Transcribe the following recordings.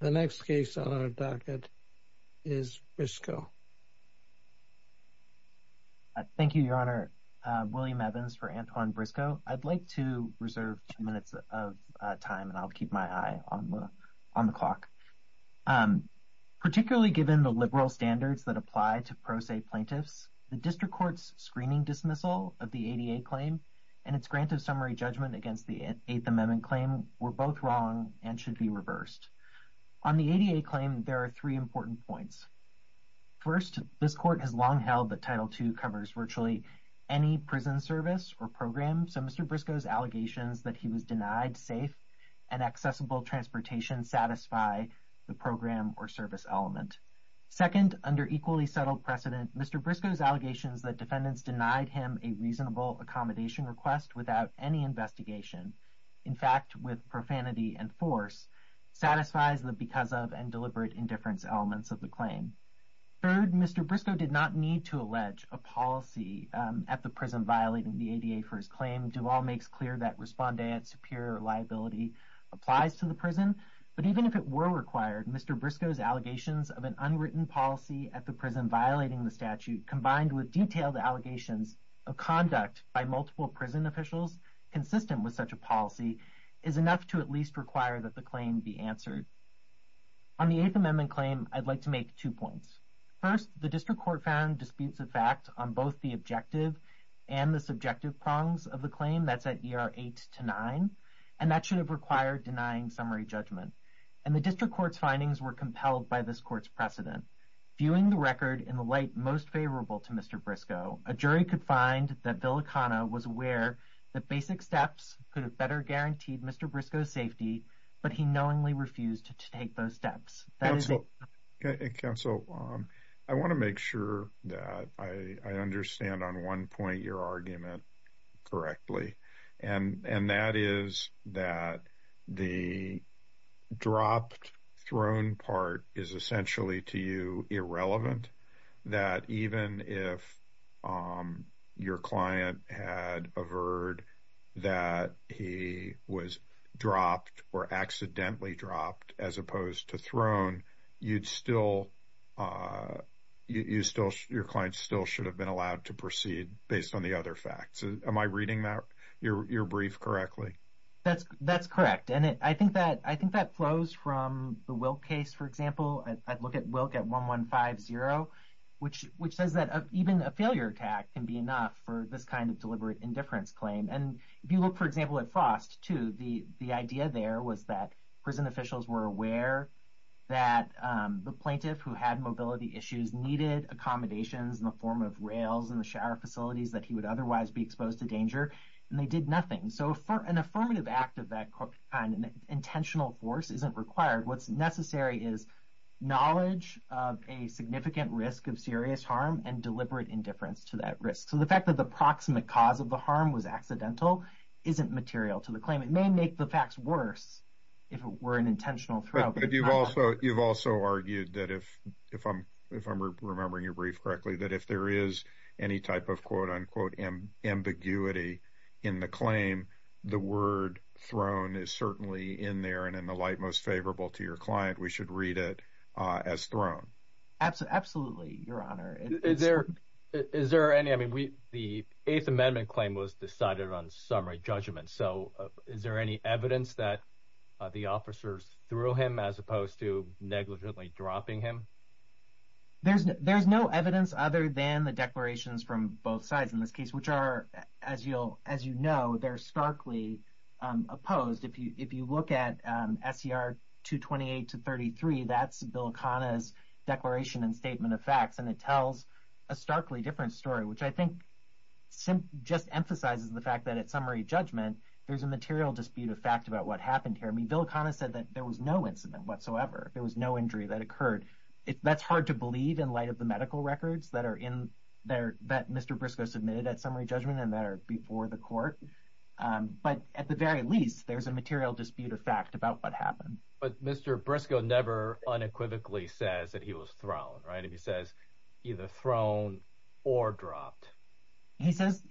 The next case on our docket is Brisco. Thank you, Your Honor. William Evans for Antoine Brisco. I'd like to reserve two minutes of time and I'll keep my eye on the clock. Particularly given the liberal standards that apply to pro se plaintiffs, the district court's screening dismissal of the ADA claim and its grant of summary judgment against the Eighth Amendment claim were both wrong and should be reversed. On the ADA claim, there are three important points. First, this court has long held that Title II covers virtually any prison service or program, so Mr. Brisco's allegations that he was denied safe and accessible transportation satisfy the program or service element. Second, under equally settled precedent, Mr. Brisco's allegations that defendants denied him a reasonable accommodation request without any investigation, in fact, with profanity and force, satisfies the because of and deliberate indifference elements of the claim. Third, Mr. Brisco did not need to allege a policy at the prison violating the ADA for his claim. Duvall makes clear that respondeat superior liability applies to the prison, but even if it were required, Mr. Brisco's allegations of an unwritten policy at the prison violating the statute combined with detailed allegations of conduct by multiple prison officials consistent with such a policy is enough to at least require that the claim be answered. On the Eighth Amendment claim, I'd like to make two points. First, the district court found disputes of fact on both the objective and the subjective prongs of the claim that's at ER 8-9, and that should have required denying summary judgment. And the district court's findings were compelled by this court's precedent. Viewing the record in the light most favorable to Mr. Brisco, a jury could find that Bill O'Connor was aware that basic steps could have better guaranteed Mr. Brisco's safety, but he knowingly refused to take those steps. Counsel, I want to make sure that I understand on one point your argument correctly, and that is that the dropped throne part is essentially to you irrelevant, that even if your client had averred that he was dropped or accidentally dropped as opposed to thrown, your client still should have been allowed to proceed based on the other facts. Am I reading your brief correctly? That's correct. And I think that flows from the Wilk case, for example. I'd look at Wilk at 1-1-5-0, which says that even a failure attack can be enough for this kind of deliberate indifference claim. And if you look, for example, at Frost, too, the idea there was that prison officials were aware that the plaintiff who had mobility issues needed accommodations in the form of rails in the shower facilities that he would otherwise be exposed to danger, and they did nothing. So an affirmative act of that kind, an intentional force, isn't required. What's necessary is knowledge of a significant risk of serious harm and deliberate indifference to that risk. So the fact that the proximate cause of the harm was accidental isn't material to the claim. It may make the facts worse if it were an intentional throw. But you've also argued that if I'm remembering your brief correctly, that if there is any type of quote-unquote ambiguity in the claim, the word thrown is certainly in there and in the light most favorable to your client. We should read it as thrown. Absolutely, Your Honor. Is there any, I mean, the Eighth Amendment claim was decided on summary judgment. So is there any evidence that the officers threw him as opposed to negligently dropping him? There's no evidence other than the declarations from both sides in this case, which are, as you'll, as you know, they're starkly opposed. If you look at SCR 228 to 33, that's Bill Akana's declaration and statement of facts, and it tells a starkly different story, which I think just emphasizes the fact that at summary judgment, there's a material dispute of fact about what happened here. I mean, Bill Akana said that there was no incident whatsoever. There was no injury that occurred. That's hard to believe in light of the medical records that are in there, that Mr. Briscoe submitted at summary judgment and that are before the court. But at the very least, there's a material dispute of fact about what happened. But Mr. Briscoe never unequivocally says that he was thrown, right? He says either thrown or dropped. He says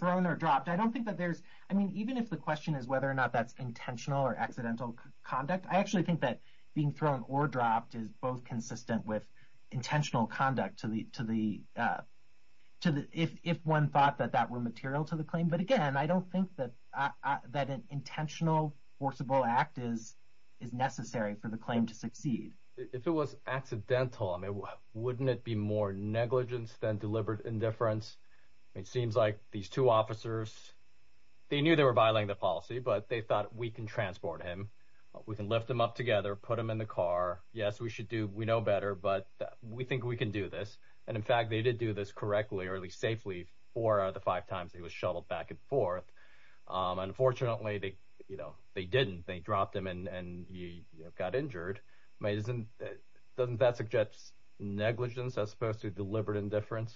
thrown or dropped. I don't think that there's, I mean, even if the question is whether or not that's intentional or accidental conduct, I actually think that being thrown or dropped is both consistent with intentional conduct to the, if one thought that that were material to the claim. But again, I don't think that an intentional forcible act is necessary for the claim to succeed. If it was accidental, I mean, wouldn't it be more negligence than deliberate indifference? It seems like these two officers, they knew they were violating the policy, but they thought we can transport him. We can lift him up together, put him in the car. Yes, we should do, we know better, but we think we can do this. And in fact, they did do this correctly or at least safely four out of the five times he was shuttled back and forth. Unfortunately, they didn't, they dropped him and he got injured. Doesn't that suggest negligence as opposed to deliberate indifference?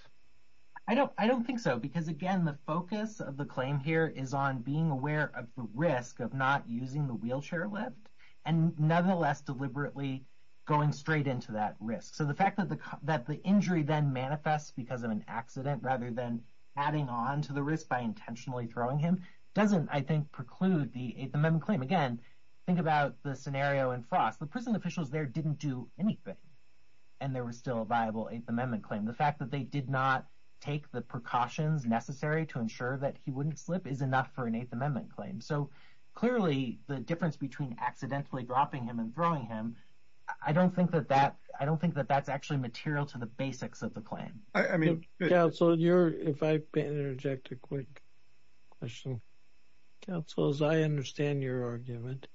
I don't, I don't think so. Because again, the focus of the claim here is on being aware of the risk of not using the wheelchair lift and nonetheless deliberately going straight into that risk. So the fact that the, that the injury then manifests because of an accident rather than adding on to the risk by intentionally throwing him doesn't, I think, preclude the Eighth Amendment claim. Again, think about the scenario in Frost. The prison officials there didn't do anything and there was still a viable Eighth Amendment claim. The fact that they did not take the precautions necessary to ensure that he wouldn't slip is enough for an Eighth Amendment claim. So clearly the difference between accidentally dropping him and throwing him, I don't think that that, I don't think that that's actually material to the basics of the claim. I mean, Counsel, you're, if I may interject a quick question. Counsel, as I understand your argument,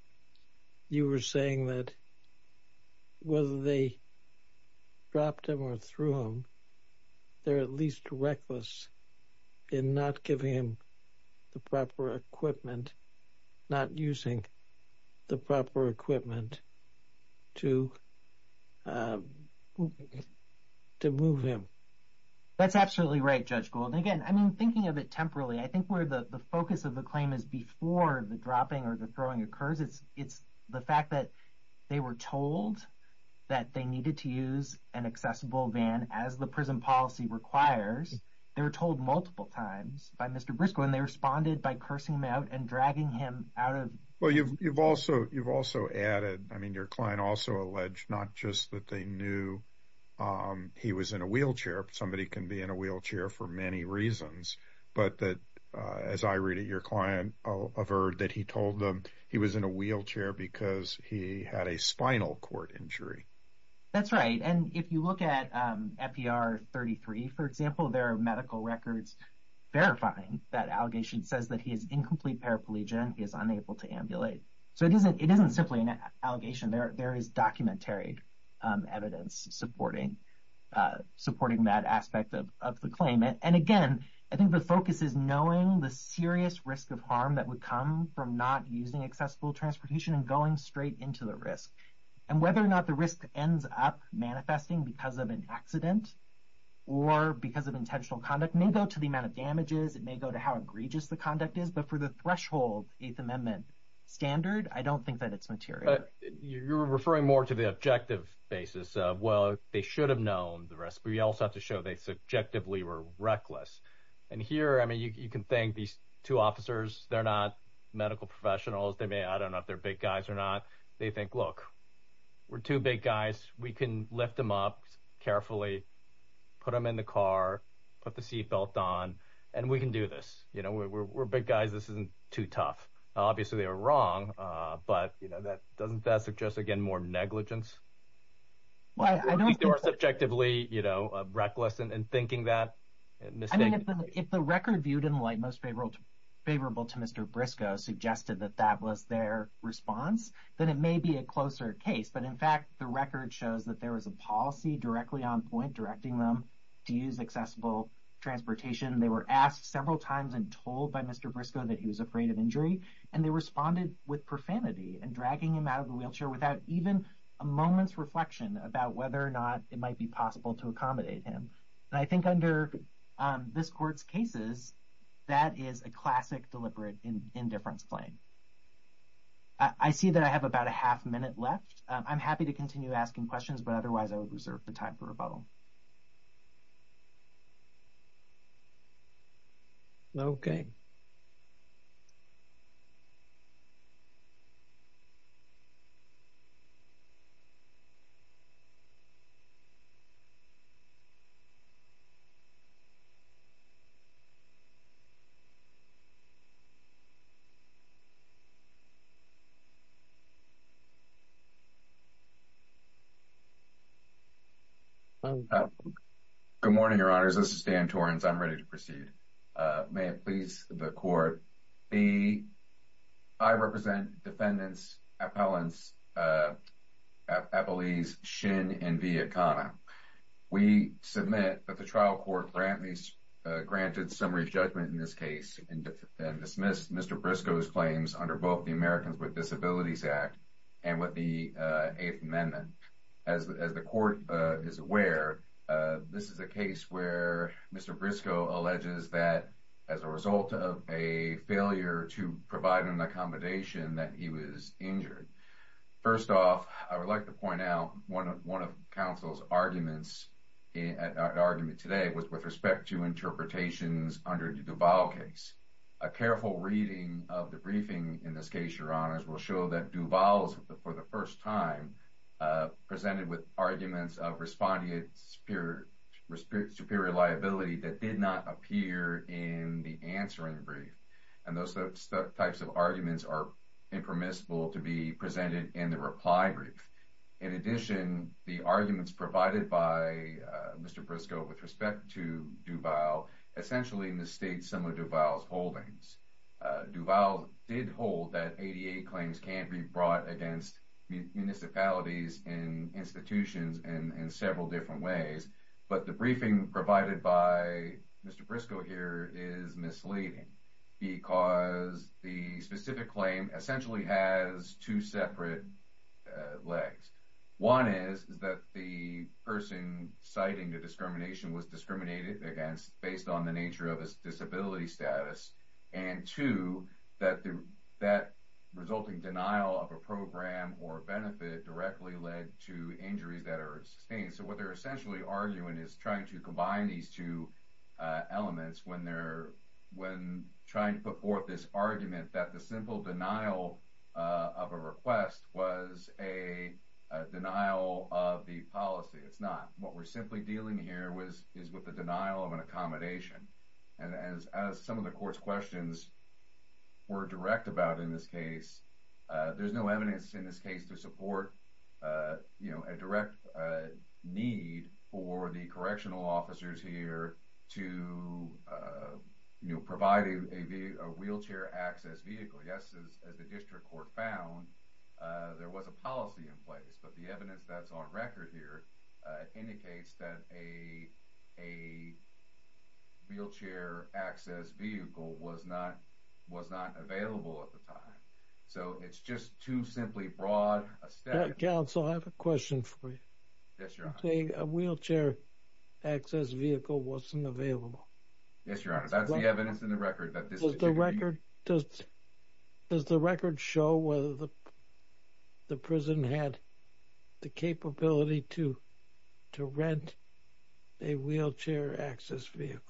you were saying that whether they dropped him or threw him, they're at least reckless in not giving him the proper equipment, not using the proper equipment to, to move him. That's absolutely right, Judge Gould. And again, I mean, thinking of it it's the fact that they were told that they needed to use an accessible van as the prison policy requires. They were told multiple times by Mr. Briscoe and they responded by cursing him out and dragging him out of. Well, you've also, you've also added, I mean, your client also alleged not just that they knew he was in a wheelchair. Somebody can be in a wheelchair for many reasons, but that as I read it, your client I'll avert that he told them he was in a wheelchair because he had a spinal cord injury. That's right. And if you look at FPR 33, for example, there are medical records verifying that allegation says that he is incomplete paraplegia and he is unable to ambulate. So it isn't, it isn't simply an allegation there. There is documentary evidence supporting that aspect of the claim. And again, I think the focus is knowing the serious risk of harm that would come from not using accessible transportation and going straight into the risk. And whether or not the risk ends up manifesting because of an accident or because of intentional conduct may go to the amount of damages. It may go to how egregious the conduct is, but for the threshold Eighth Amendment standard, I don't think that it's You're referring more to the objective basis of, well, they should have known the risk, but you also have to show they subjectively were reckless. And here, I mean, you can thank these two officers. They're not medical professionals. They may, I don't know if they're big guys or not. They think, look, we're two big guys. We can lift them up carefully, put them in the car, put the seatbelt on, and we can do this. You know, we're big guys. This isn't too tough. Obviously, they were wrong. But, you know, doesn't that suggest, again, more negligence? I don't think they were subjectively, you know, reckless in thinking that. If the record viewed in the light most favorable to Mr. Briscoe suggested that that was their response, then it may be a closer case. But in fact, the record shows that there was a policy directly on point directing them to use accessible transportation. They were asked several times and told by Mr. Briscoe that he was afraid of injury, and they responded with profanity and dragging him out of the wheelchair without even a moment's reflection about whether or not it might be possible to accommodate him. And I think under this court's cases, that is a classic deliberate indifference claim. I see that I have about a half minute left. I'm happy to continue asking questions, but otherwise, I would reserve the time for rebuttal. Okay. Good morning, Your Honors. This is Dan Torrens. I'm ready to proceed. May it please the court. I represent defendants, appellants, appellees, Shin and Viacana. We submit that the trial court granted summary judgment in this case and dismissed Mr. Briscoe's claims under both the Americans with Disabilities Act and with the Eighth Amendment. As the court is aware, this is a case where Mr. Briscoe alleges that as a result of a failure to provide an accommodation that he was injured. First off, I would like to point out one of counsel's arguments today was with respect to interpretations under the Duval case. A careful reading of the briefing in this case, Your Honors, will show that Duval, for the first time, presented with arguments of respondent's superior liability that did not appear in the answering brief. And those types of arguments are impermissible to be presented in the reply brief. In addition, the arguments provided by Mr. Briscoe with respect to Duval essentially mistakes some of Duval's holdings. Duval did hold that ADA claims can be brought against municipalities and institutions in several different ways. But the briefing provided by Mr. Briscoe here is misleading because the specific claim essentially has two separate legs. One is that the person citing the discrimination was discriminated against based on the nature of his disability status. And two, that resulting denial of a program or benefit directly led to injuries that are sustained. So what they're essentially arguing is trying to combine these two elements when they're trying to put forth this argument that the simple denial of a request was a denial of the policy. It's not. What we're simply dealing here is with the denial of an accommodation. And as some of the court's questions were direct about in this case, there's no evidence in this case to support a direct need for the correctional officers here to provide a wheelchair access vehicle. Yes, as the district court found, there was a policy in place. But the evidence that's on record here indicates that a wheelchair access vehicle was not was not available at the time. So it's just too simply broad a step. Counsel, I have a question for you. A wheelchair access vehicle wasn't available. Yes, Your Honor. That's the evidence in the record. Does the record show whether the prison had the capability to rent a wheelchair access vehicle?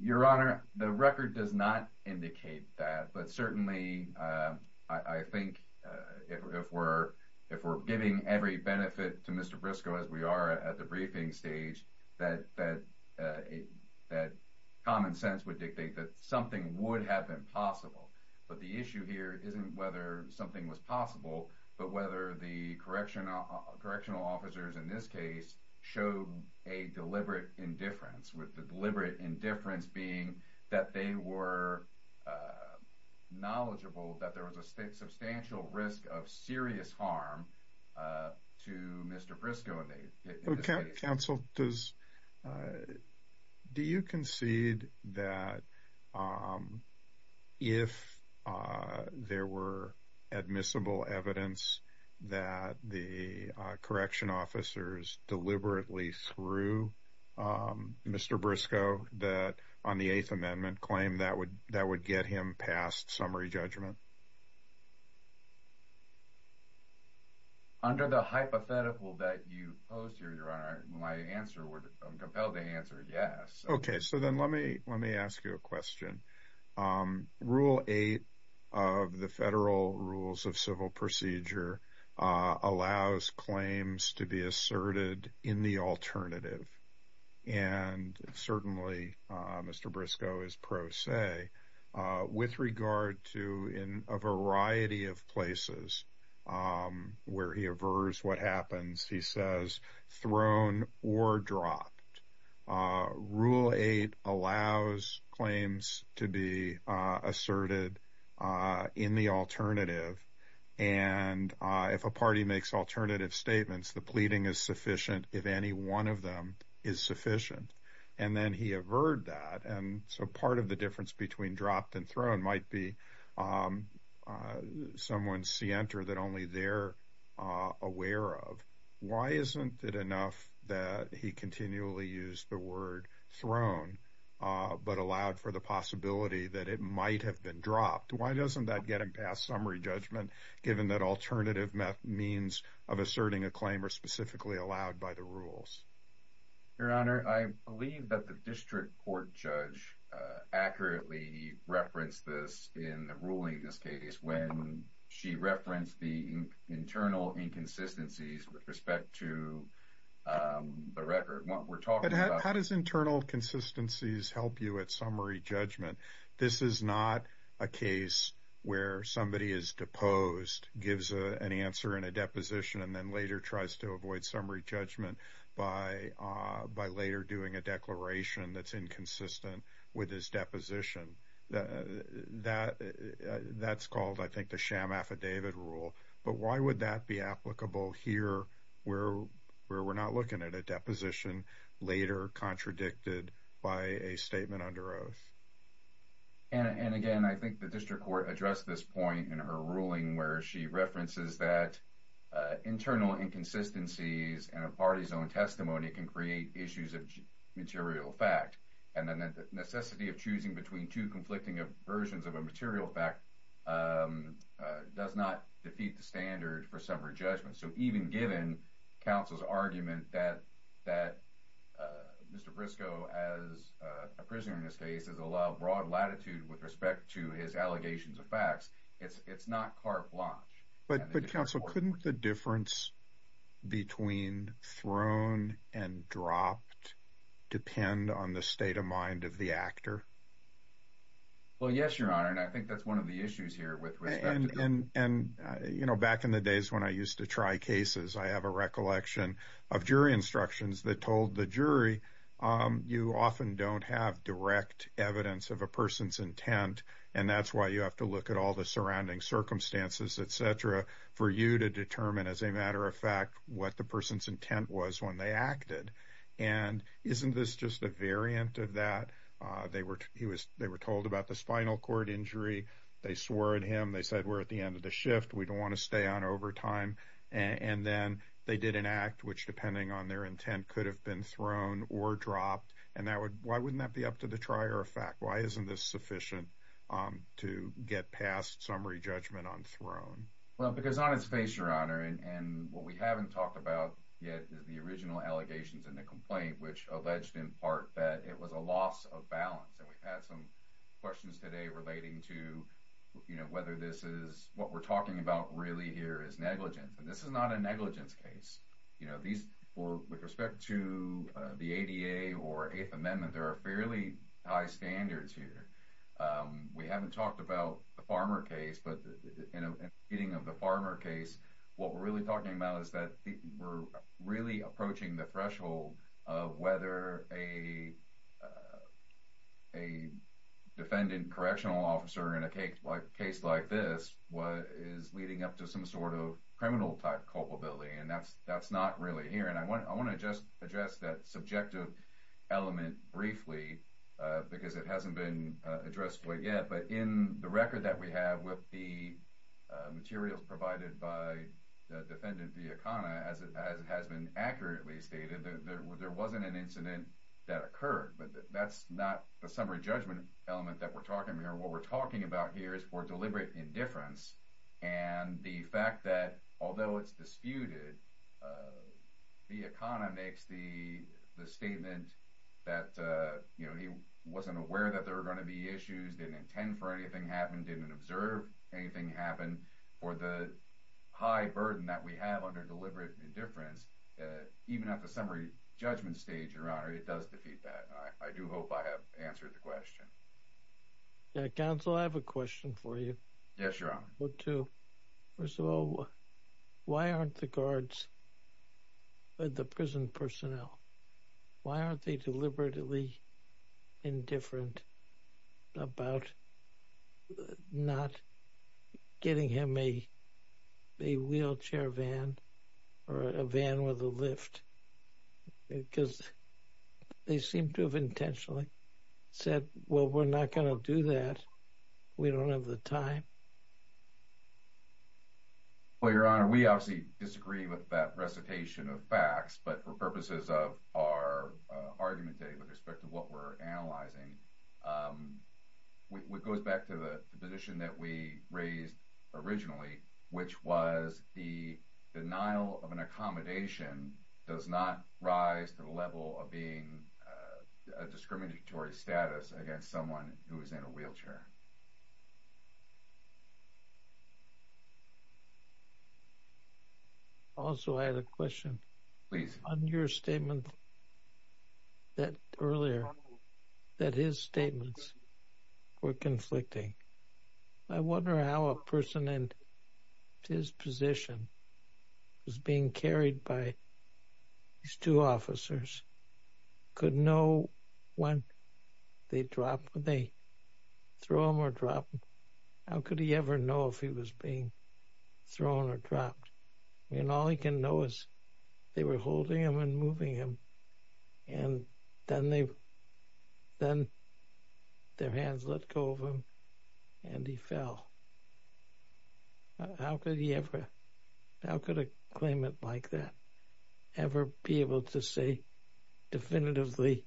Your Honor, the record does not indicate that. But certainly, I think if we're giving every benefit to Mr. Briscoe as we are at the briefing stage, that common sense would dictate that something would have been possible. But the issue here isn't whether something was possible, but whether the correctional officers in this case showed a deliberate indifference, with the deliberate indifference being that they were knowledgeable that there was a substantial risk of serious harm to Mr. Briscoe. Counsel, do you concede that if there were admissible evidence that the correction officers deliberately threw Mr. Briscoe that on the Eighth Amendment claim that would get him passed summary judgment? Under the hypothetical that you posed here, Your Honor, I'm compelled to answer yes. Okay, so then let me ask you a question. Rule 8 of the Federal Rules of Civil Procedure allows claims to be asserted in the alternative. And certainly, Mr. Briscoe is pro se. With regard to in a variety of places where he avers what happens, he says thrown or dropped. Rule 8 allows claims to be asserted in the alternative. And if a party makes alternative statements, the pleading is sufficient if any one of them is sufficient. And then he averred that. And so part of the difference between dropped and thrown might be someone's scienter that only they're aware of. Why isn't it enough that he continually used the word thrown but allowed for the possibility that it might have been dropped? Why doesn't that get him passed summary judgment given that alternative means of asserting a claim are specifically allowed by the rules? Your Honor, I believe that the district court judge accurately referenced this in the ruling when she referenced the internal inconsistencies with respect to the record. How does internal consistencies help you at summary judgment? This is not a case where somebody is deposed, gives an answer in a deposition, and then later tries to avoid summary judgment by later doing a declaration that's inconsistent with his deposition. That's called, I think, the sham affidavit rule. But why would that be applicable here where we're not looking at a deposition later contradicted by a statement under oath? And again, I think the district court addressed this point in her ruling where she references that internal inconsistencies and a party's own testimony can create issues of material fact. And then the necessity of choosing between two conflicting versions of a material fact does not defeat the standard for summary judgment. So even given counsel's argument that Mr. Briscoe, as a prisoner in this case, has allowed broad latitude with respect to his allegations of facts, it's not carte blanche. But counsel, couldn't the difference between thrown and dropped depend on the state of mind of the actor? Well, yes, Your Honor. And I think that's one of the issues here with respect to- And back in the days when I used to try cases, I have a recollection of jury instructions that told the jury you often don't have direct evidence of a person's intent. And that's why you have to determine as a matter of fact what the person's intent was when they acted. And isn't this just a variant of that? They were told about the spinal cord injury. They swore at him. They said, we're at the end of the shift. We don't want to stay on overtime. And then they did an act, which depending on their intent, could have been thrown or dropped. And why wouldn't that be up to the trier of fact? Why isn't this sufficient to get past summary judgment on thrown? Well, because on its face, Your Honor, and what we haven't talked about yet is the original allegations in the complaint, which alleged in part that it was a loss of balance. And we've had some questions today relating to whether this is what we're talking about really here is negligence. And this is not a negligence case. With respect to the ADA or Eighth Amendment, there are fairly high standards here. We haven't talked about the Farmer case. But in the Farmer case, what we're really talking about is that we're really approaching the threshold of whether a defendant correctional officer in a case like this is leading up to some sort of criminal type culpability. And that's not really here. And I want to just address that subjective element briefly, because it hasn't been addressed quite yet. But in the record that we have with the materials provided by the defendant, the economy, as it has been accurately stated, there wasn't an incident that occurred. But that's not the summary judgment element that we're talking here. What we're talking about here is for deliberate indifference. And the fact that although it's disputed, the economy makes the statement that he wasn't aware that there were going to be issues, didn't intend for anything to happen, didn't observe anything happen. For the high burden that we have under deliberate indifference, even at the summary judgment stage, Your Honor, it does defeat that. I do hope I have answered the question. Counsel, I have a question for you. Yes, Your Honor. First of all, why aren't the guards, the prison personnel, why aren't they deliberately indifferent about not getting him a wheelchair van or a van with a lift? Because they seem to have intentionally said, well, we're not going to do that. We don't have the time. Well, Your Honor, we obviously disagree with that recitation of facts. But for purposes of our argument today with respect to what we're analyzing, it goes back to the position that we raised originally, which was the denial of an accommodation does not rise to the level of being a discriminatory status against someone who is in a wheelchair. Also, I had a question. Please. On your statement that earlier, that his statements were conflicting. I wonder how a person in his position who's being carried by these two officers could know when they drop, when they throw him or drop him. How could he ever know if he was being thrown or dropped? And all he can know is they were holding him and moving him. And then their hands let go of him and he fell. How could he ever, how could a claimant like that ever be able to say definitively,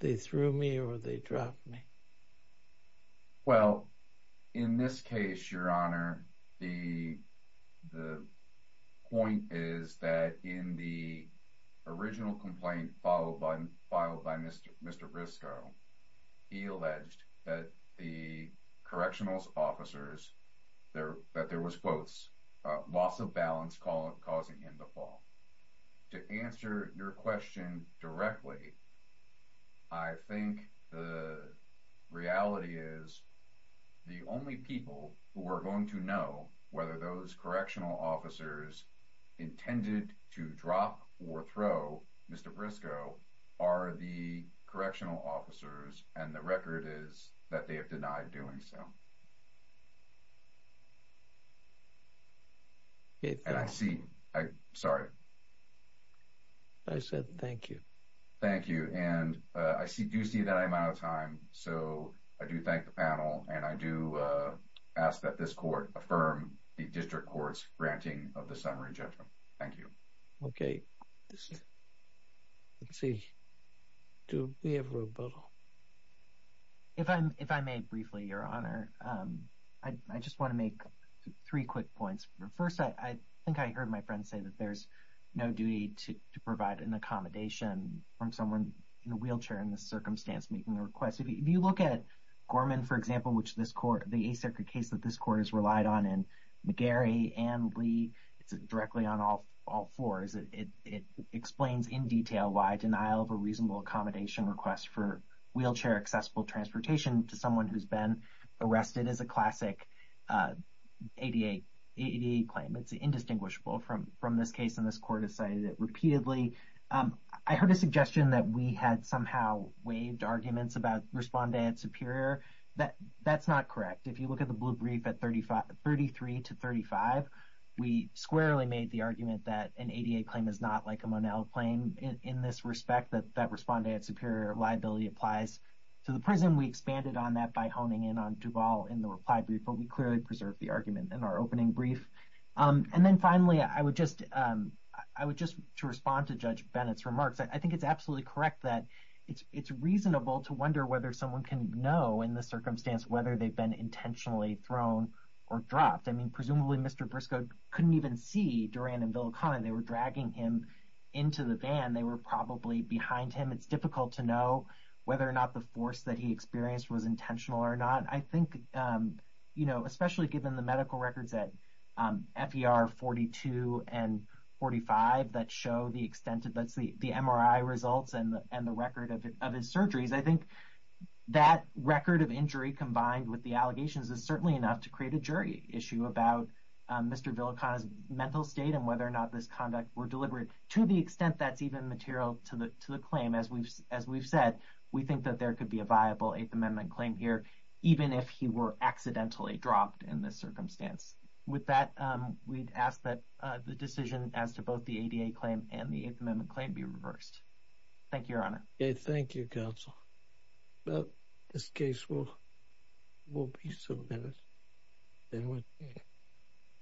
they threw me or they dropped me? Well, in this case, Your Honor, the point is that in the original complaint followed by Mr. Briscoe, he alleged that the correctional officer there, that there was quotes, a loss of balance call causing him to fall. To answer your question directly, I think the reality is the only people who are going to know whether those correctional officers intended to drop or throw Mr. Briscoe are the correctional officers. And the record is that they have denied doing so. And I see, sorry. I said, thank you. Thank you. And I do see that I'm out of time. So I do thank the panel and I do ask that this court affirm the district court's granting of the summary judgment. Thank you. Okay. Let's see. Do we have a rebuttal? If I may briefly, Your Honor, I just want to make three quick points. First, I think I heard my friend say that there's no duty to provide an accommodation from someone in a wheelchair in this circumstance making the request. If you look at Gorman, for example, which this court, the case that this court has relied on in McGarry and Lee, it's directly on all floors. It explains in detail why denial of a reasonable accommodation request for wheelchair accessible transportation to someone who's been arrested is a classic ADA claim. It's indistinguishable from this case and this court has cited it repeatedly. I heard a suggestion that we had somehow waived arguments about responde at superior. That's not correct. If you look at the blue brief at 33 to 35, we squarely made the argument that an ADA claim is not like a Monell claim in this respect that responde at superior liability applies to the prison. We expanded on that by honing in on Duval in the reply brief, but we clearly preserved the argument in our opening brief. And then finally, I would just to respond to Judge Bennett's remarks. I think it's absolutely correct that it's reasonable to wonder whether someone can know in this circumstance whether they've been intentionally thrown or dropped. I mean, presumably Mr. Briscoe couldn't even see Duran and Villicana. They were dragging him into the van. They were probably behind him. It's difficult to know whether or not the force that he experienced was intentional or not. I think, you know, especially given the medical records at FER 42 and 45 that show the extent of the MRI results and the record of his surgeries, I think that record of injury combined with the allegations is certainly enough to create a jury issue about Mr. Villicana's mental state and whether or not this conduct were deliberate. To the extent that's even material to the claim, as we've said, we think that there could be a viable Eighth Amendment claim here, even if he were accidentally dropped in this circumstance. With that, we'd ask that the decision as to both ADA claim and the Eighth Amendment claim be reversed. Thank you, Your Honor. Yeah, thank you, Counsel. Well, this case will be submitted.